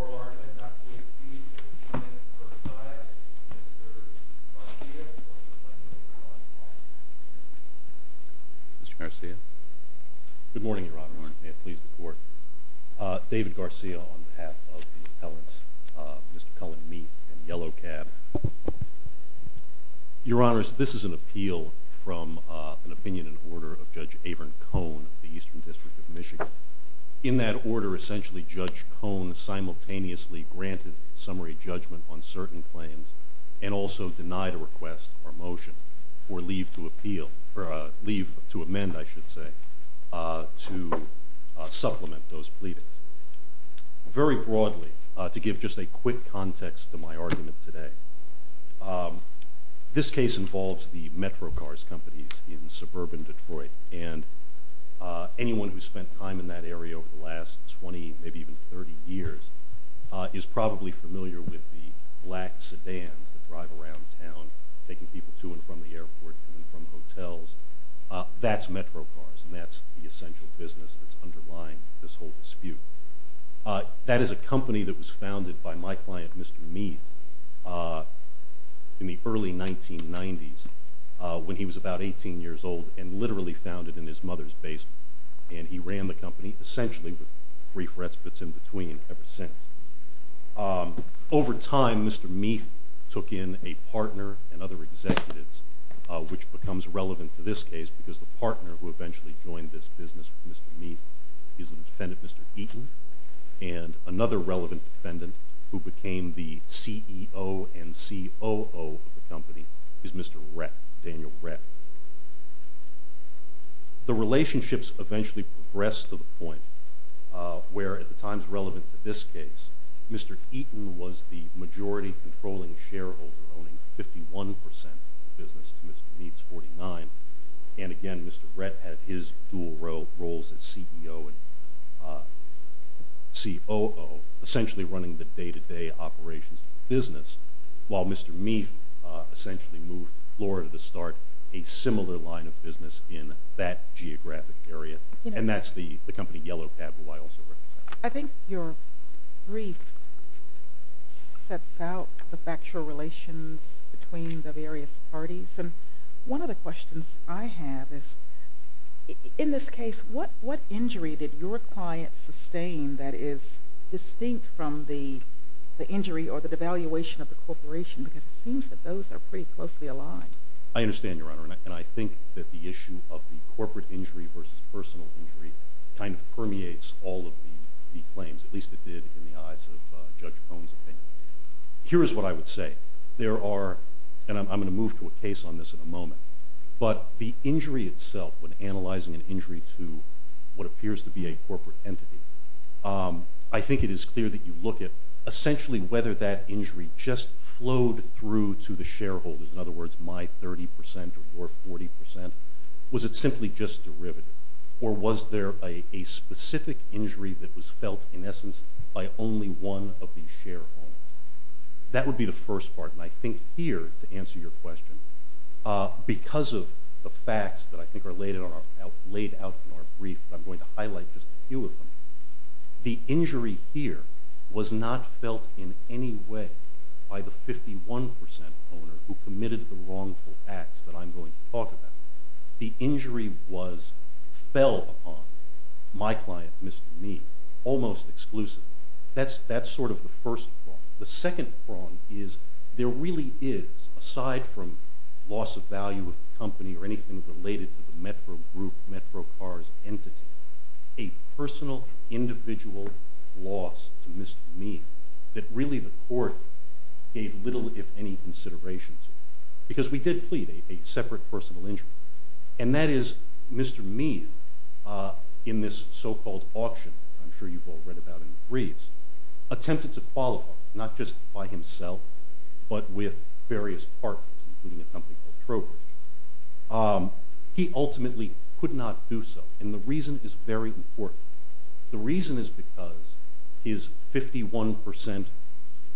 Oral argument not to exceed 15 minutes per side. Mr. Garcia or Mr. Cullan Meathe v. Daniel Ret. Mr. Garcia. Good morning, Your Honors. May it please the Court. David Garcia on behalf of the appellants, Mr. Cullan Meathe and Yellow Cab. Your Honors, this is an appeal from an opinion and order of Judge Averin Cohn of the Eastern District of Michigan. In that order, essentially, Judge Cohn simultaneously granted summary judgment on certain claims and also denied a request or motion for leave to appeal, or leave to amend, I should say, to supplement those pleadings. Very broadly, to give just a quick context to my argument today, this case involves the MetroCars companies in suburban Detroit. And anyone who's spent time in that area over the last 20, maybe even 30 years is probably familiar with the black sedans that drive around town, taking people to and from the airport and from hotels. That's MetroCars, and that's the essential business that's underlying this whole dispute. That is a company that was founded by my client, Mr. Meathe, in the early 1990s, when he was about 18 years old, and literally founded in his mother's basement. And he ran the company, essentially, with three fretspits in between ever since. Over time, Mr. Meathe took in a partner and other executives, which becomes relevant to this case, because the partner who eventually joined this business with Mr. Meathe is the defendant, Mr. Eaton. And another relevant defendant, who became the CEO and COO of the company, is Mr. Rett, Daniel Rett. The relationships eventually progressed to the point where, at the times relevant to this case, Mr. Eaton was the majority controlling shareholder, owning 51% of the business to Mr. Meathe's 49%. And again, Mr. Rett had his dual roles as CEO and COO, essentially running the day-to-day operations of the business, while Mr. Meathe essentially moved the floor to start a similar line of business in that geographic area. And that's the company Yellow Cab, who I also represent. I think your brief sets out the factual relations between the various parties. And one of the questions I have is, in this case, what injury did your client sustain that is distinct from the injury or the devaluation of the corporation? Because it seems that those are pretty closely aligned. I understand, Your Honor, and I think that the issue of the corporate injury versus personal injury kind of permeates all of the claims, at least it did in the eyes of Judge Cone's opinion. Here is what I would say. There are, and I'm going to move to a case on this in a moment, but the injury itself, when analyzing an injury to what appears to be a corporate entity, I think it is clear that you look at essentially whether that injury just flowed through to the shareholders. In other words, my 30 percent or your 40 percent. Was it simply just derivative? Or was there a specific injury that was felt, in essence, by only one of these shareholders? That would be the first part. And I think here, to answer your question, because of the facts that I think are laid out in our brief, I'm going to highlight just a few of them. The injury here was not felt in any way by the 51 percent owner who committed the wrongful acts that I'm going to talk about. The injury fell upon my client, Mr. Meade, almost exclusively. That's sort of the first prong. The second prong is there really is, aside from loss of value of the company or anything related to the Metro Group, Metro Cars entity, a personal, individual loss to Mr. Meade that really the court gave little, if any, consideration to. Because we did plead a separate personal injury. And that is, Mr. Meade, in this so-called auction, I'm sure you've all read about it in the briefs, attempted to qualify, not just by himself, but with various partners, including a company called Trowbridge. He ultimately could not do so. And the reason is very important. The reason is because his 51 percent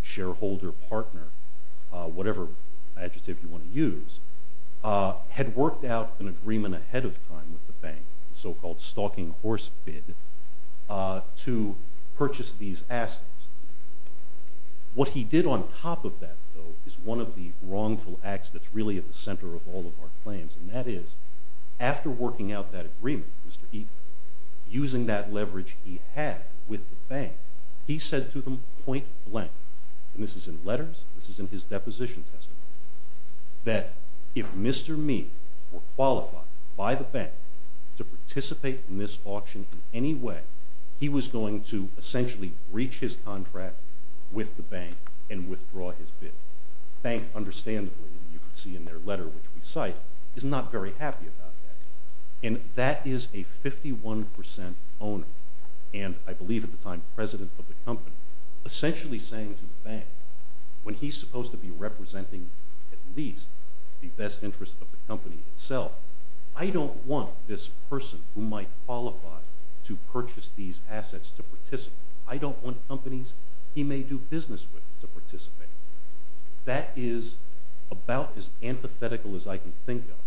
shareholder partner, whatever adjective you want to use, had worked out an agreement ahead of time with the bank, the so-called stalking horse bid, to purchase these assets. What he did on top of that, though, is one of the wrongful acts that's really at the center of all of our claims. And that is, after working out that agreement with Mr. Meade, using that leverage he had with the bank, he said to them point blank, and this is in letters, this is in his deposition testimony, that if Mr. Meade were qualified by the bank to participate in this auction in any way, he was going to essentially breach his contract with the bank and withdraw his bid. The bank, understandably, you can see in their letter, which we cite, is not very happy about that. And that is a 51 percent owner, and I believe at the time president of the company, essentially saying to the bank, when he's supposed to be representing at least the best interest of the company itself, I don't want this person who might qualify to purchase these assets to participate. I don't want companies he may do business with to participate. That is about as antithetical as I can think of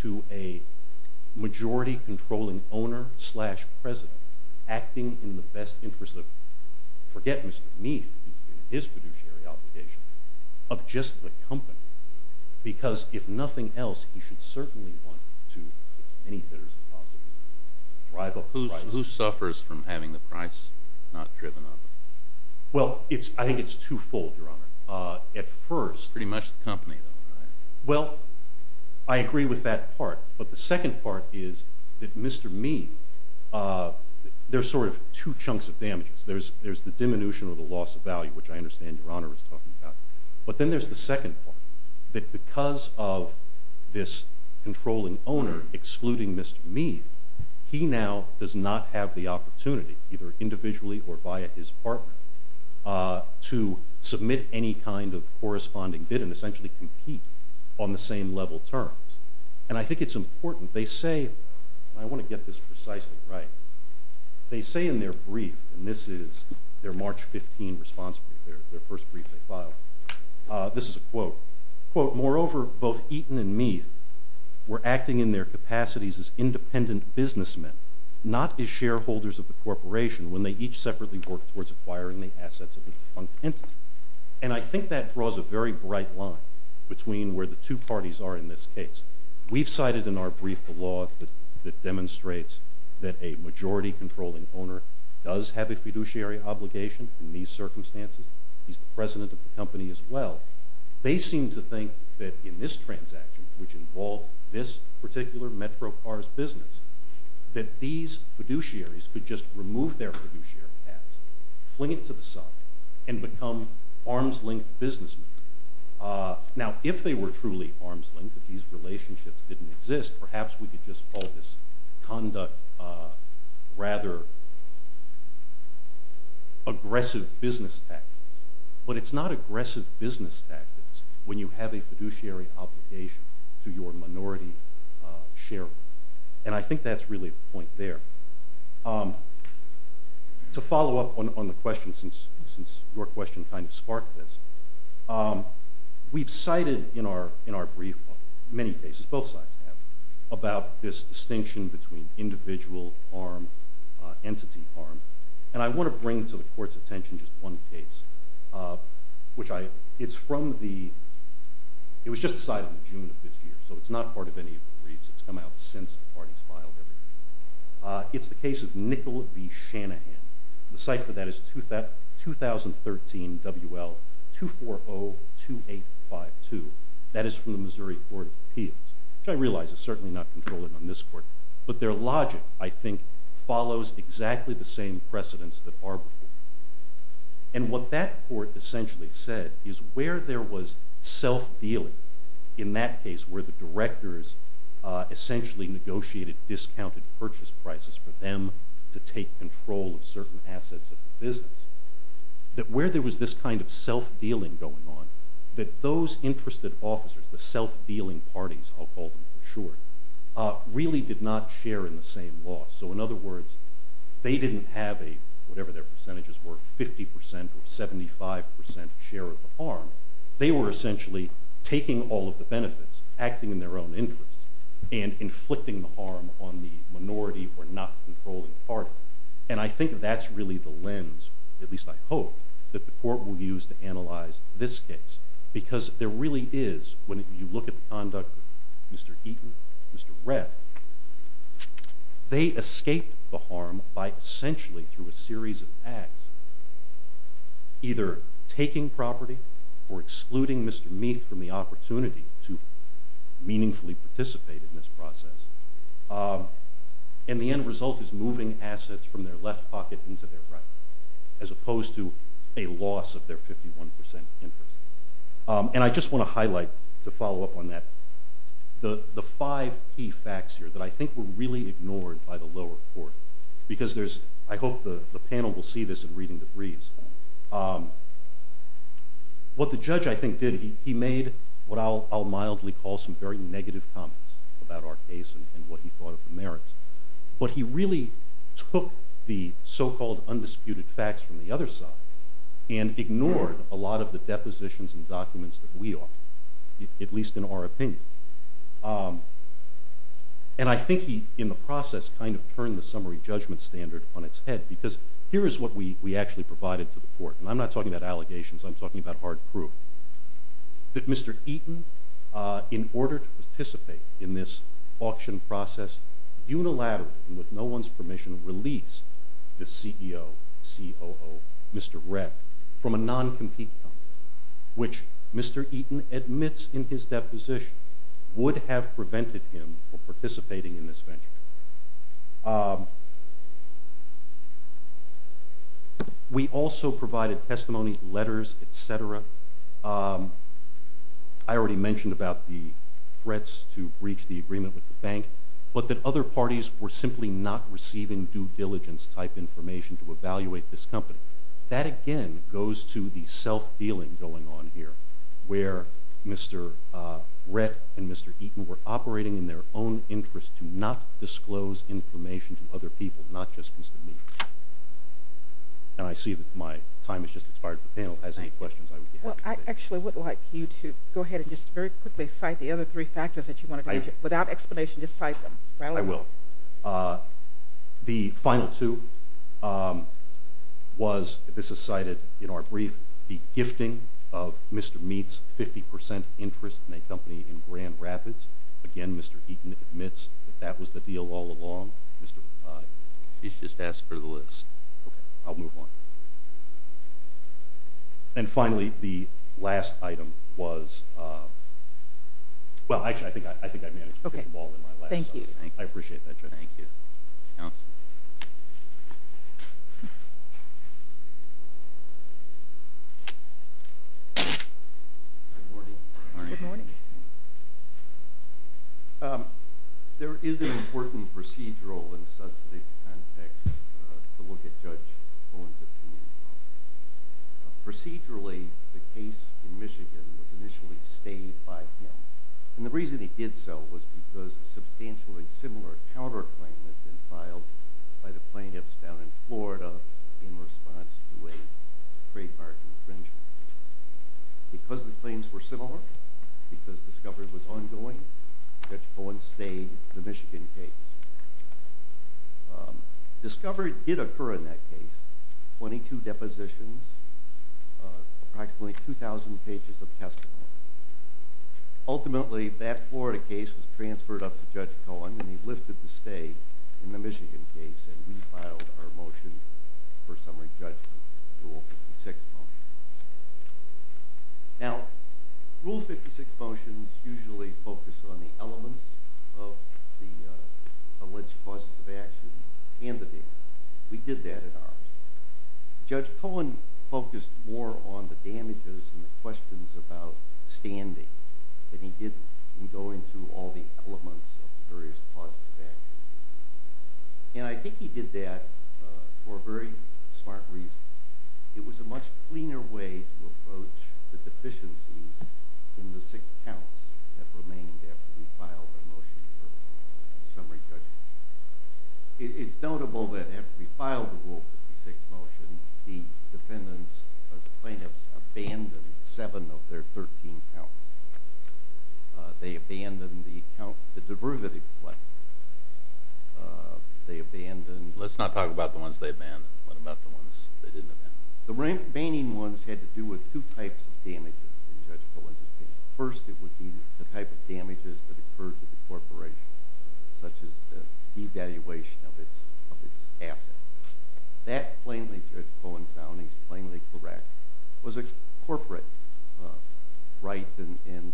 to a majority-controlling owner-slash-president acting in the best interest of, forget Mr. Meade, his fiduciary obligation, of just the company. Because if nothing else, he should certainly want to, as many bidders as possible, drive up prices. But who suffers from having the price not driven up? Well, I think it's twofold, Your Honor. At first- Pretty much the company, though, right? Well, I agree with that part. But the second part is that Mr. Meade, there's sort of two chunks of damages. There's the diminution or the loss of value, which I understand Your Honor is talking about. But then there's the second part, that because of this controlling owner excluding Mr. Meade, he now does not have the opportunity, either individually or via his partner, to submit any kind of corresponding bid and essentially compete on the same level terms. And I think it's important. They say, and I want to get this precisely right, they say in their brief, and this is their March 15 response brief, their first brief they filed, this is a quote, quote, Moreover, both Eaton and Meade were acting in their capacities as independent businessmen, not as shareholders of the corporation when they each separately worked towards acquiring the assets of a defunct entity. And I think that draws a very bright line between where the two parties are in this case. We've cited in our brief the law that demonstrates that a majority controlling owner does have a fiduciary obligation in these circumstances. He's the president of the company as well. They seem to think that in this transaction, which involved this particular MetroCars business, that these fiduciaries could just remove their fiduciary hats, fling it to the side, and become arms-length businessmen. Now, if they were truly arms-length, if these relationships didn't exist, perhaps we could just call this conduct rather aggressive business tactics. But it's not aggressive business tactics when you have a fiduciary obligation to your minority shareholder. And I think that's really the point there. To follow up on the question, since your question kind of sparked this, we've cited in our brief, in many cases, both sides have, about this distinction between individual arm, entity arm. And I want to bring to the Court's attention just one case. It was just decided in June of this year, so it's not part of any of the briefs. It's come out since the parties filed everything. It's the case of Nicol B. Shanahan. The cipher for that is 2013 WL2402852. That is from the Missouri Court of Appeals, which I realize is certainly not controlling on this Court. But their logic, I think, follows exactly the same precedents that are before you. And what that Court essentially said is where there was self-dealing, in that case where the directors essentially negotiated discounted purchase prices for them to take control of certain assets of the business, that where there was this kind of self-dealing going on, that those interested officers, the self-dealing parties, I'll call them for short, really did not share in the same loss. So in other words, they didn't have a, whatever their percentages were, 50% or 75% share of the arm. They were essentially taking all of the benefits, acting in their own interest, and inflicting the harm on the minority or not controlling party. And I think that's really the lens, at least I hope, that the Court will use to analyze this case. Because there really is, when you look at the conduct of Mr. Eaton, Mr. Redd, they escaped the harm by essentially through a series of acts, either taking property or excluding Mr. Meath from the opportunity to meaningfully participate in this process. And the end result is moving assets from their left pocket into their right, as opposed to a loss of their 51% interest. And I just want to highlight, to follow up on that, the five key facts here that I think were really ignored by the lower court. Because there's, I hope the panel will see this in reading the briefs. What the judge, I think, did, he made what I'll mildly call some very negative comments about our case and what he thought of the merits. But he really took the so-called undisputed facts from the other side and ignored a lot of the depositions and documents that we offered, at least in our opinion. And I think he, in the process, kind of turned the summary judgment standard on its head. Because here is what we actually provided to the Court. And I'm not talking about allegations, I'm talking about hard proof. That Mr. Eaton, in order to participate in this auction process, unilaterally and with no one's permission, released the CEO, COO, Mr. Reck, from a non-compete company, which Mr. Eaton admits in his deposition would have prevented him from participating in this venture. We also provided testimony, letters, etc. I already mentioned about the threats to breach the agreement with the bank, but that other parties were simply not receiving due diligence type information to evaluate this company. That, again, goes to the self-dealing going on here, where Mr. Reck and Mr. Eaton were operating in their own interest to not disclose information to other people, not just Mr. Mead. And I see that my time has just expired. If the panel has any questions, I would be happy to take them. Well, I actually would like you to go ahead and just very quickly cite the other three factors that you wanted to mention. Without explanation, just cite them. I will. The final two was, this is cited in our brief, the gifting of Mr. Mead's 50% interest in a company in Grand Rapids. Again, Mr. Eaton admits that that was the deal all along. He's just asked for the list. Okay, I'll move on. And finally, the last item was – well, actually, I think I managed to pick them all in my last sentence. Thank you. I appreciate that, Judge. Thank you. Counsel? Good morning. Good morning. There is an important procedural in such a big context to look at Judge Cohen's opinion on. Procedurally, the case in Michigan was initially stayed by him. And the reason he did so was because a substantially similar counterclaim had been filed by the plaintiffs down in Florida in response to a trademark infringement. Because the claims were similar, because discovery was ongoing, Judge Cohen stayed the Michigan case. Discovery did occur in that case, 22 depositions, approximately 2,000 pages of testimony. Ultimately, that Florida case was transferred up to Judge Cohen, and he lifted the stay in the Michigan case, and we filed our motion for summary judgment, Rule 56 motion. Now, Rule 56 motions usually focus on the elements of the alleged causes of action and the victim. We did that in ours. Judge Cohen focused more on the damages and the questions about standing than he did in going through all the elements of various causes of action. And I think he did that for a very smart reason. It was a much cleaner way to approach the deficiencies in the six counts that remained after we filed the motion for summary judgment. It's notable that after we filed the Rule 56 motion, the defendants, or the plaintiffs, abandoned seven of their 13 counts. They abandoned the divergative claim. Let's not talk about the ones they abandoned. What about the ones they didn't abandon? The remaining ones had to do with two types of damages in Judge Cohen's opinion. First, it would be the type of damages that occurred to the corporation, such as the devaluation of its assets. That, plainly Judge Cohen found, he's plainly correct, was a corporate right and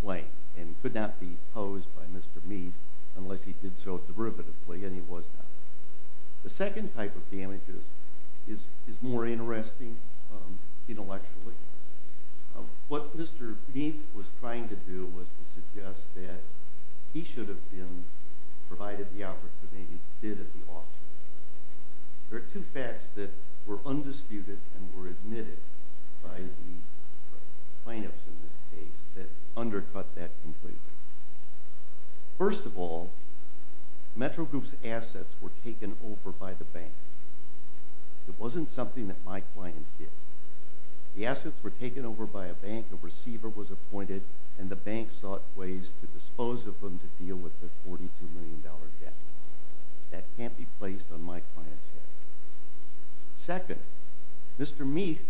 claim, and could not be opposed by Mr. Meath unless he did so derivatively, and he was not. The second type of damages is more interesting intellectually. What Mr. Meath was trying to do was to suggest that he should have been provided the opportunity he did at the auction. There are two facts that were undisputed and were admitted by the plaintiffs in this case that undercut that completely. First of all, Metro Group's assets were taken over by the bank. It wasn't something that my client did. The assets were taken over by a bank, a receiver was appointed, and the bank sought ways to dispose of them to deal with their $42 million debt. That can't be placed on my client's head. Second, Mr. Meath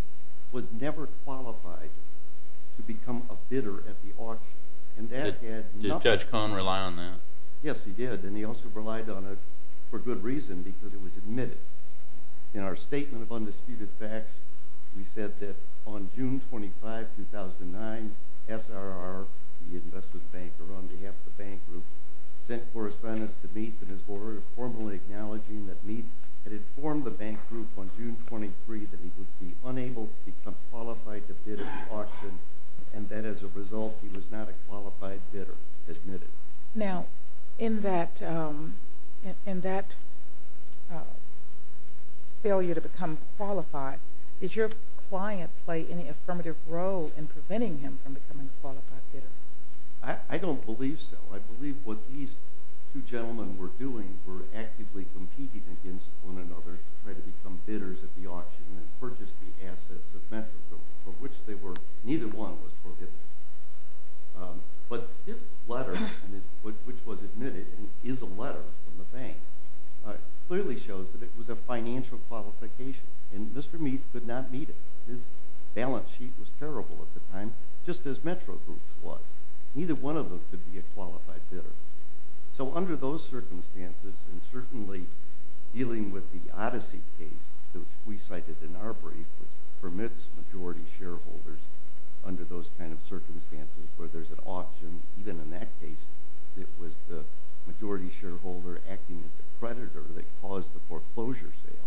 was never qualified to become a bidder at the auction. Did Judge Cohen rely on that? Yes, he did, and he also relied on it for good reason, because it was admitted. In our statement of undisputed facts, we said that on June 25, 2009, SRR, the investment banker on behalf of the bank group, sent correspondence to Meath in his order formally acknowledging that Meath had informed the bank group on June 23 that he would be unable to become qualified to bid at the auction, and that as a result he was not a qualified bidder, admitted. Now, in that failure to become qualified, did your client play any affirmative role in preventing him from becoming a qualified bidder? I don't believe so. I believe what these two gentlemen were doing were actively competing against one another to try to become bidders at the auction and purchase the assets of Metro Group, of which neither one was prohibited. But this letter, which was admitted and is a letter from the bank, clearly shows that it was a financial qualification, and Mr. Meath could not meet it. His balance sheet was terrible at the time, just as Metro Group's was. Neither one of them could be a qualified bidder. So under those circumstances, and certainly dealing with the Odyssey case that we cited in our brief, which permits majority shareholders under those kind of circumstances where there's an auction, even in that case it was the majority shareholder acting as a predator that caused the foreclosure sale,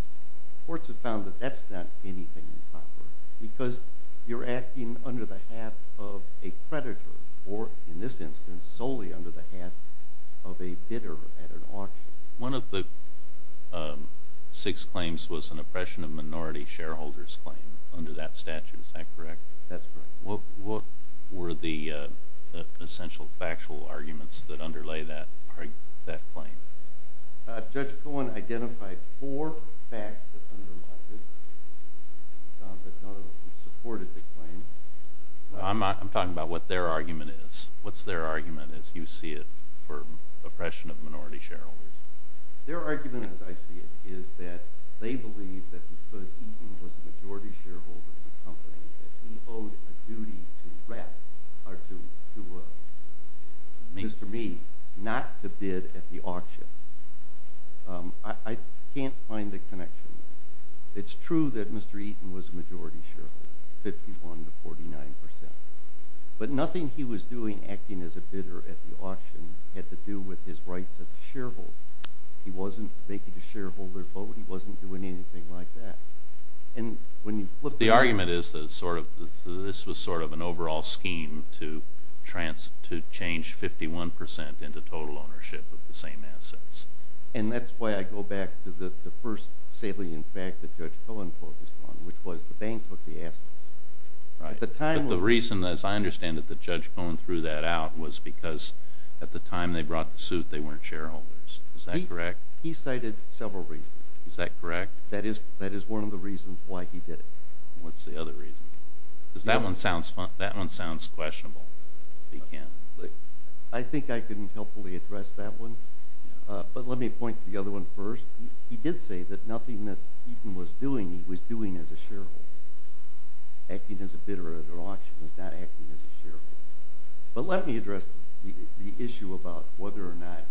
courts have found that that's not anything improper, because you're acting under the hat of a predator, or in this instance solely under the hat of a bidder at an auction. One of the six claims was an oppression of minority shareholders claim under that statute. Is that correct? That's correct. What were the essential factual arguments that underlay that claim? Judge Cohen identified four facts that underlie it. None of them supported the claim. I'm talking about what their argument is. What's their argument, as you see it, for oppression of minority shareholders? Their argument, as I see it, is that they believe that because Eaton was a majority shareholder of the company, that he owed a duty to Mr. Meath not to bid at the auction. I can't find the connection. It's true that Mr. Eaton was a majority shareholder, 51% to 49%. But nothing he was doing, acting as a bidder at the auction, had to do with his rights as a shareholder. He wasn't making a shareholder vote. He wasn't doing anything like that. The argument is that this was sort of an overall scheme to change 51% into total ownership of the same assets. And that's why I go back to the first salient fact that Judge Cohen focused on, which was the bank took the assets. But the reason, as I understand it, that Judge Cohen threw that out was because at the time they brought the suit, they weren't shareholders. Is that correct? He cited several reasons. Is that correct? That is one of the reasons why he did it. What's the other reason? Because that one sounds questionable. I think I can helpfully address that one. But let me point to the other one first. He did say that nothing that Eaton was doing he was doing as a shareholder. Acting as a bidder at an auction is not acting as a shareholder. But let me address the issue about whether or not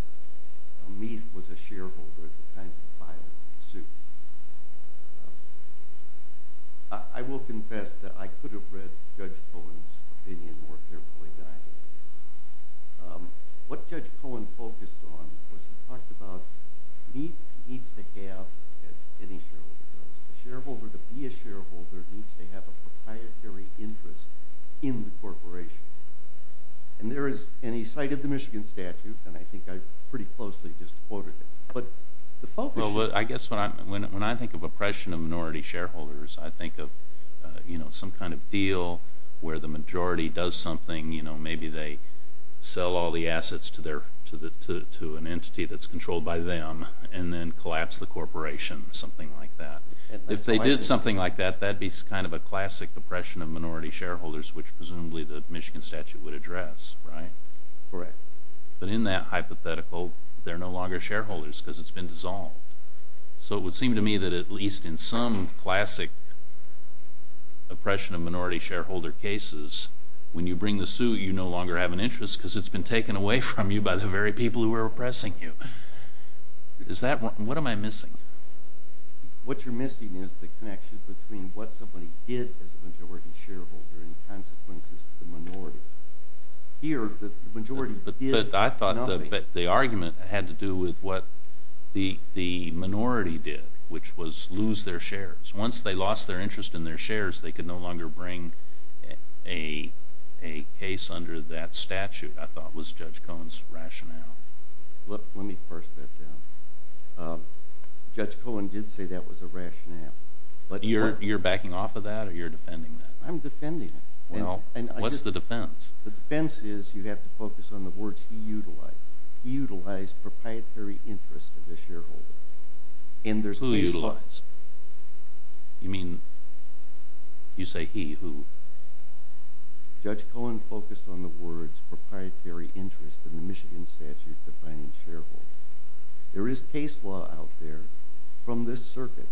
Meath was a shareholder at the time he filed the suit. I will confess that I could have read Judge Cohen's opinion more carefully than I did. What Judge Cohen focused on was he talked about Meath needs to have, as any shareholder does, a shareholder to be a shareholder needs to have a proprietary interest in the corporation. And he cited the Michigan statute, and I think I pretty closely just quoted it. Well, I guess when I think of oppression of minority shareholders, I think of some kind of deal where the majority does something. Maybe they sell all the assets to an entity that's controlled by them and then collapse the corporation, something like that. If they did something like that, that would be kind of a classic oppression of minority shareholders, which presumably the Michigan statute would address, right? Correct. But in that hypothetical, they're no longer shareholders because it's been dissolved. So it would seem to me that at least in some classic oppression of minority shareholder cases, when you bring the suit, you no longer have an interest because it's been taken away from you by the very people who are oppressing you. What am I missing? What you're missing is the connection between what somebody did as a majority shareholder and consequences to the minority. Here, the majority did nothing. But I thought the argument had to do with what the minority did, which was lose their shares. Once they lost their interest in their shares, they could no longer bring a case under that statute, I thought, was Judge Cohen's rationale. Let me parse that down. Judge Cohen did say that was a rationale. But you're backing off of that or you're defending that? I'm defending it. Well, what's the defense? The defense is you have to focus on the words he utilized. He utilized proprietary interest of the shareholder. Who utilized? You mean you say he who? Judge Cohen focused on the words proprietary interest in the Michigan statute defining shareholders. There is case law out there from this circuit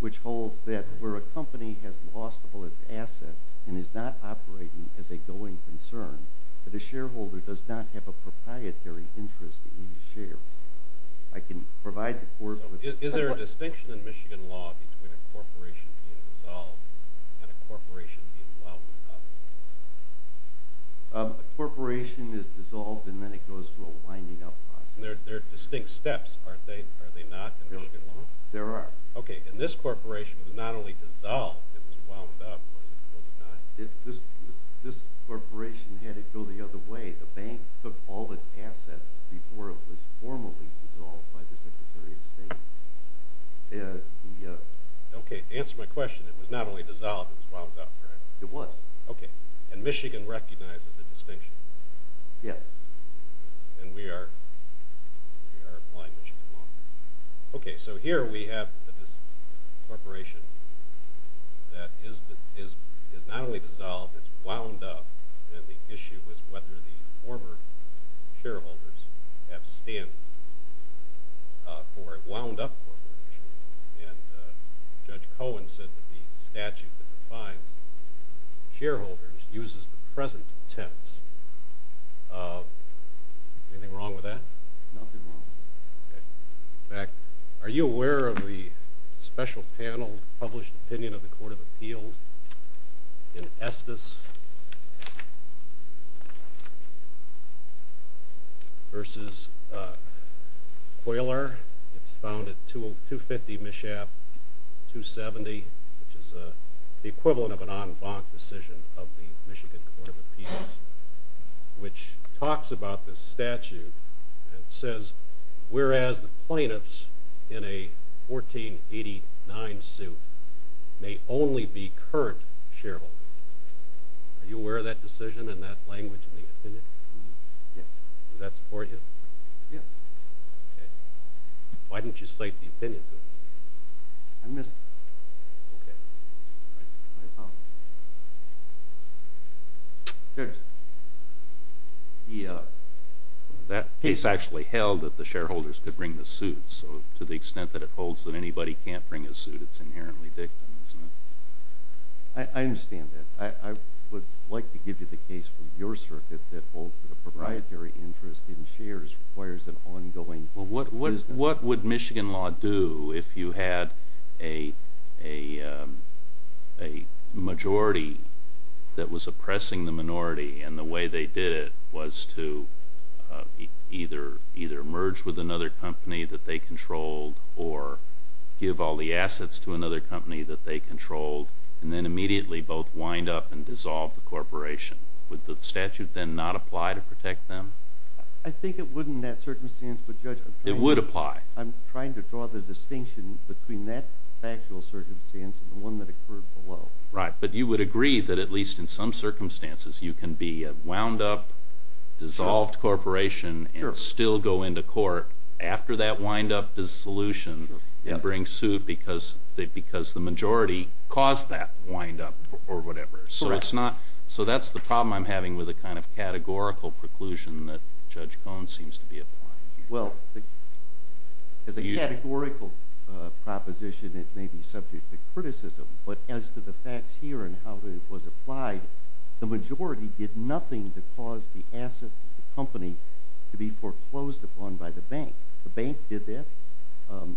which holds that where a company has lost all its assets and is not operating as a going concern, that a shareholder does not have a proprietary interest in these shares. I can provide the court with some more. Is there a distinction in Michigan law between a corporation being dissolved and a corporation being wound up? A corporation is dissolved and then it goes through a winding up process. They're distinct steps, aren't they? Are they not in Michigan law? There are. Okay. And this corporation was not only dissolved, it was wound up, was it not? This corporation had it go the other way. The bank took all its assets before it was formally dissolved by the Secretary of State. Okay. To answer my question, it was not only dissolved, it was wound up, right? It was. Okay. And Michigan recognizes the distinction? Yes. And we are applying Michigan law. Okay. So here we have this corporation that is not only dissolved, it's wound up, and the issue is whether the former shareholders have standing for a wound up corporation. And Judge Cohen said that the statute that defines shareholders uses the present tense. Anything wrong with that? Nothing wrong. Okay. In fact, are you aware of the special panel published opinion of the Court of Appeals in Estes versus Coyler? It's found at 250 Mishap, 270, which is the equivalent of an en banc decision of the Michigan Court of Appeals, which talks about this statute and says, whereas the plaintiffs in a 1489 suit may only be current shareholders. Are you aware of that decision and that language in the opinion? Yes. Does that support you? Yes. Okay. Why didn't you cite the opinion to us? I missed it. Okay. I apologize. Judge? That case actually held that the shareholders could bring the suits, so to the extent that it holds that anybody can't bring a suit, it's inherently dictum, isn't it? I understand that. I would like to give you the case from your circuit that holds that a proprietary interest in shares requires an ongoing business. What would Michigan law do if you had a majority that was oppressing the minority and the way they did it was to either merge with another company that they controlled or give all the assets to another company that they controlled and then immediately both wind up and dissolve the corporation? Would the statute then not apply to protect them? I think it would in that circumstance, but, Judge, I'm trying to draw the distinction between that factual circumstance and the one that occurred below. Right. But you would agree that at least in some circumstances you can be a wound-up, dissolved corporation and still go into court after that wind-up dissolution and bring suit because the majority caused that wind-up or whatever. Correct. So that's the problem I'm having with the kind of categorical preclusion that Judge Cohen seems to be applying here. Well, as a categorical proposition, it may be subject to criticism, but as to the facts here and how it was applied, the majority did nothing to cause the assets of the company to be foreclosed upon by the bank. The bank did that.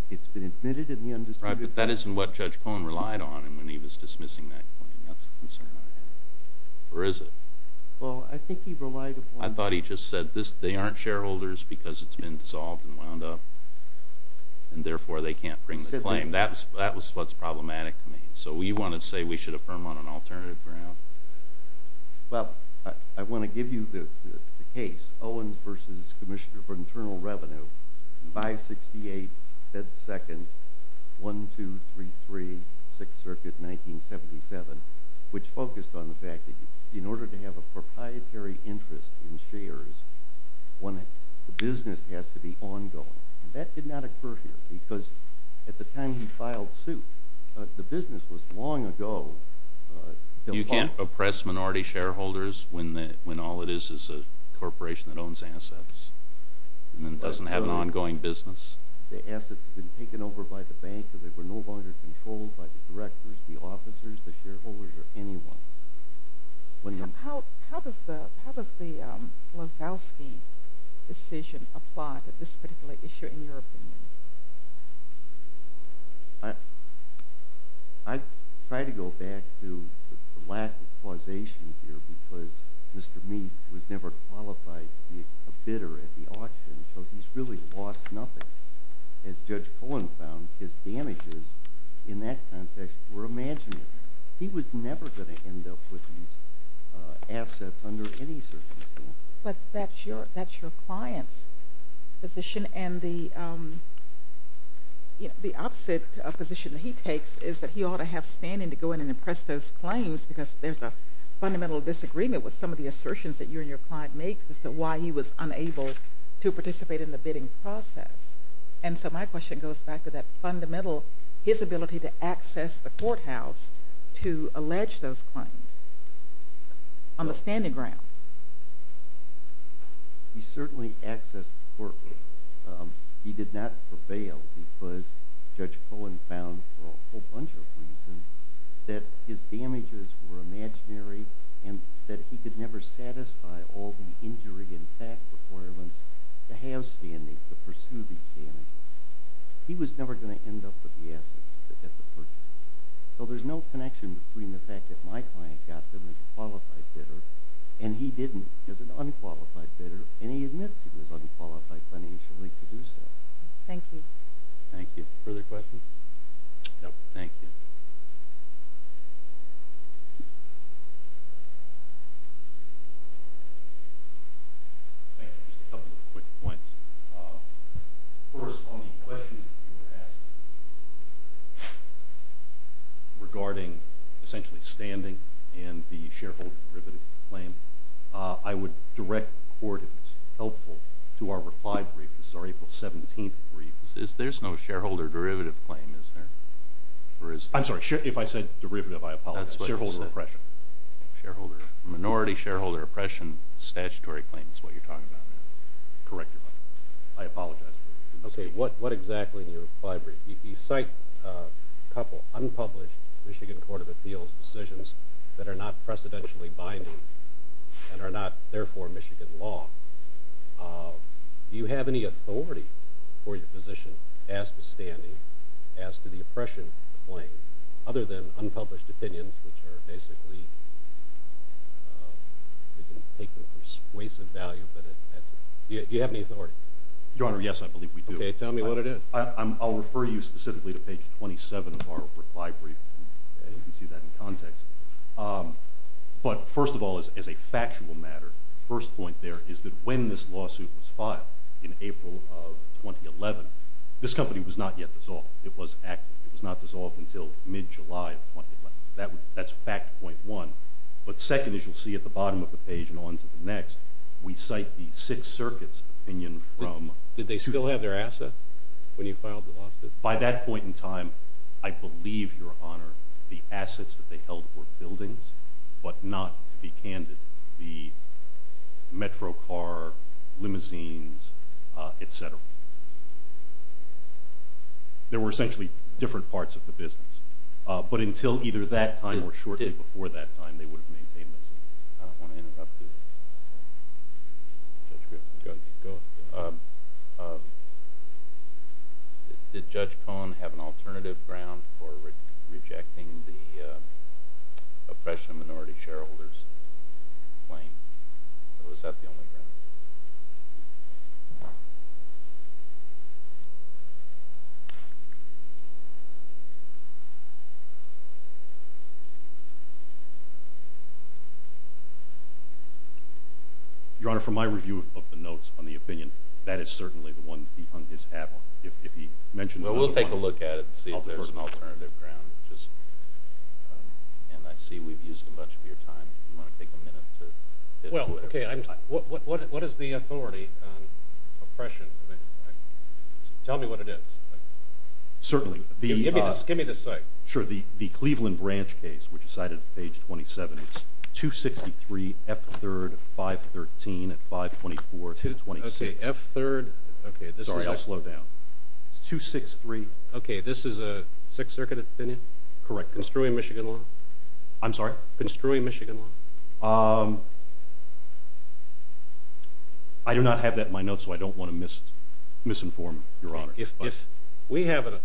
It's been admitted in the undisputed. But that isn't what Judge Cohen relied on when he was dismissing that claim. That's the concern I have. Or is it? Well, I think he relied upon it. I thought he just said they aren't shareholders because it's been dissolved and wound up and therefore they can't bring the claim. That was what's problematic to me. So you want to say we should affirm on an alternative ground? Well, I want to give you the case, Owens v. Commissioner for Internal Revenue, 568 Bed 2nd, 1233 6th Circuit, 1977, which focused on the fact that in order to have a proprietary interest in shares, the business has to be ongoing. That did not occur here because at the time he filed suit, the business was long ago. You can't oppress minority shareholders when all it is is a corporation that owns assets and then doesn't have an ongoing business. The assets had been taken over by the bank, so they were no longer controlled by the directors, the officers, the shareholders, or anyone. How does the Wazowski decision apply to this particular issue in your opinion? I'd try to go back to the lack of causation here because Mr. Meath was never qualified to be a bidder at the auction, so he's really lost nothing. As Judge Cohen found, his damages in that context were imaginary. He was never going to end up with these assets under any circumstances. But that's your client's position, and the opposite position that he takes is that he ought to have standing to go in and impress those claims because there's a fundamental disagreement with some of the assertions that you and your client make as to why he was unable to participate in the bidding process. So my question goes back to that fundamental, his ability to access the courthouse to allege those claims on the standing ground. He certainly accessed the courthouse. He did not prevail because Judge Cohen found for a whole bunch of reasons that his damages were imaginary and that he could never satisfy all the injury impact requirements to have standing to pursue these damages. He was never going to end up with the assets at the purchase. So there's no connection between the fact that my client got them as a qualified bidder and he didn't as an unqualified bidder and he admits he was unqualified financially to do so. Thank you. Thank you. Further questions? No. Thank you. Just a couple of quick points. First, on the questions that you were asking regarding essentially standing and the shareholder derivative claim, I would direct the court, if it's helpful, to our reply brief. This is our April 17th brief. There's no shareholder derivative claim, is there? I'm sorry. If I said derivative, I apologize. That's what you said. Shareholder oppression. Minority shareholder oppression statutory claim is what you're talking about. Correct your question. I apologize. Okay. What exactly in your reply brief? You cite a couple unpublished Michigan Court of Appeals decisions that are not precedentially binding and are not, therefore, Michigan law. Do you have any authority for your position as to standing, as to the oppression claim, other than unpublished opinions, which are basically you can take them for a waste of value. Do you have any authority? Your Honor, yes, I believe we do. Okay. Tell me what it is. I'll refer you specifically to page 27 of our reply brief. You can see that in context. But first of all, as a factual matter, the first point there is that when this lawsuit was filed in April of 2011, this company was not yet dissolved. It was active. It was not dissolved until mid-July of 2011. That's fact point one. But second, as you'll see at the bottom of the page and on to the next, we cite the Sixth Circuit's opinion from – Did they still have their assets when you filed the lawsuit? By that point in time, I believe, Your Honor, the assets that they held were buildings, but not, to be candid, the metro car, limousines, et cetera. There were essentially different parts of the business. But until either that time or shortly before that time, they would have maintained those things. I don't want to interrupt you. Judge Griffin, you've got to keep going. Did Judge Cohen have an alternative ground for rejecting the oppression of minority shareholders claim, Your Honor, from my review of the notes on the opinion, that is certainly the one he hung his hat on. If he mentioned another one. Well, we'll take a look at it and see if there's an alternative ground. And I see we've used a bunch of your time. Do you want to take a minute to – Well, okay. What is the authority on oppression? Tell me what it is. Certainly. Give me the site. Sure. The Cleveland Branch case, which is cited on page 27, it's 263 F3rd 513 at 524, 226. Okay, F3rd. Sorry, I'll slow down. It's 263. Okay, this is a Sixth Circuit opinion? Correct. Construing Michigan law? I'm sorry? Construing Michigan law? I do not have that in my notes, so I don't want to misinform, Your Honor. If we have an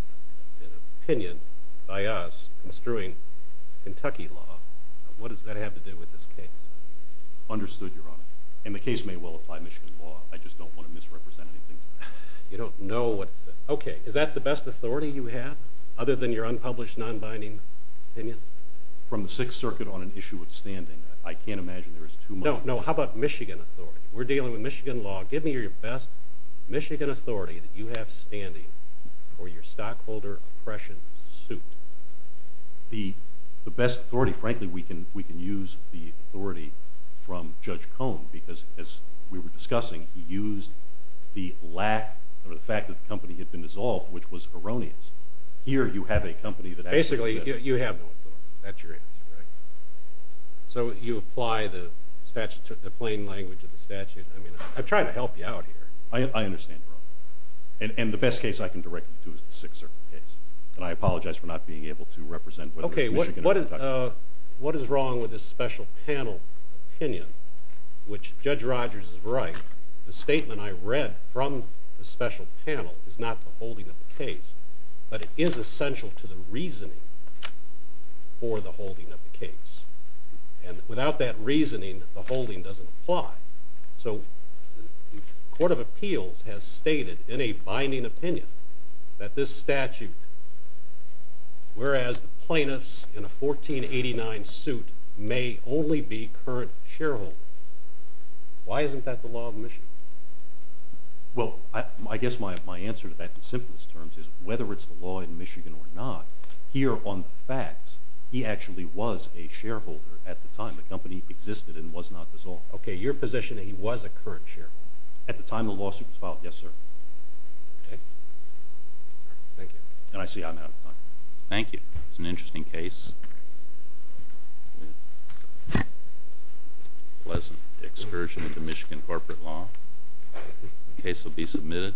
opinion by us construing Kentucky law, what does that have to do with this case? Understood, Your Honor. And the case may well apply Michigan law. I just don't want to misrepresent anything. You don't know what it says. Okay, is that the best authority you have, other than your unpublished nonbinding opinion? From the Sixth Circuit on an issue of standing, I can't imagine there is too much. No, no. How about Michigan authority? We're dealing with Michigan law. Give me your best Michigan authority that you have standing for your stockholder oppression suit. The best authority, frankly, we can use the authority from Judge Cohn because, as we were discussing, he used the lack or the fact that the company had been dissolved, which was erroneous. Here you have a company that actually exists. Basically, you have no authority. That's your answer, right? So you apply the plain language of the statute? I'm trying to help you out here. I understand, Your Honor. And the best case I can directly do is the Sixth Circuit case. And I apologize for not being able to represent whether it's Michigan or Kentucky. Okay, what is wrong with this special panel opinion, which Judge Rogers is right, the statement I read from the special panel is not the holding of the case, but it is essential to the reasoning for the holding of the case. And without that reasoning, the holding doesn't apply. So the Court of Appeals has stated in a binding opinion that this statute, whereas the plaintiffs in a 1489 suit may only be current shareholders. Why isn't that the law of Michigan? Well, I guess my answer to that in simplest terms is whether it's the law in Michigan or not, here on the facts, he actually was a shareholder at the time. The company existed and was not dissolved. Okay, your position that he was a current shareholder? At the time the lawsuit was filed, yes, sir. Okay. Thank you. And I see I'm out of time. Thank you. It was an interesting case. The case will be submitted.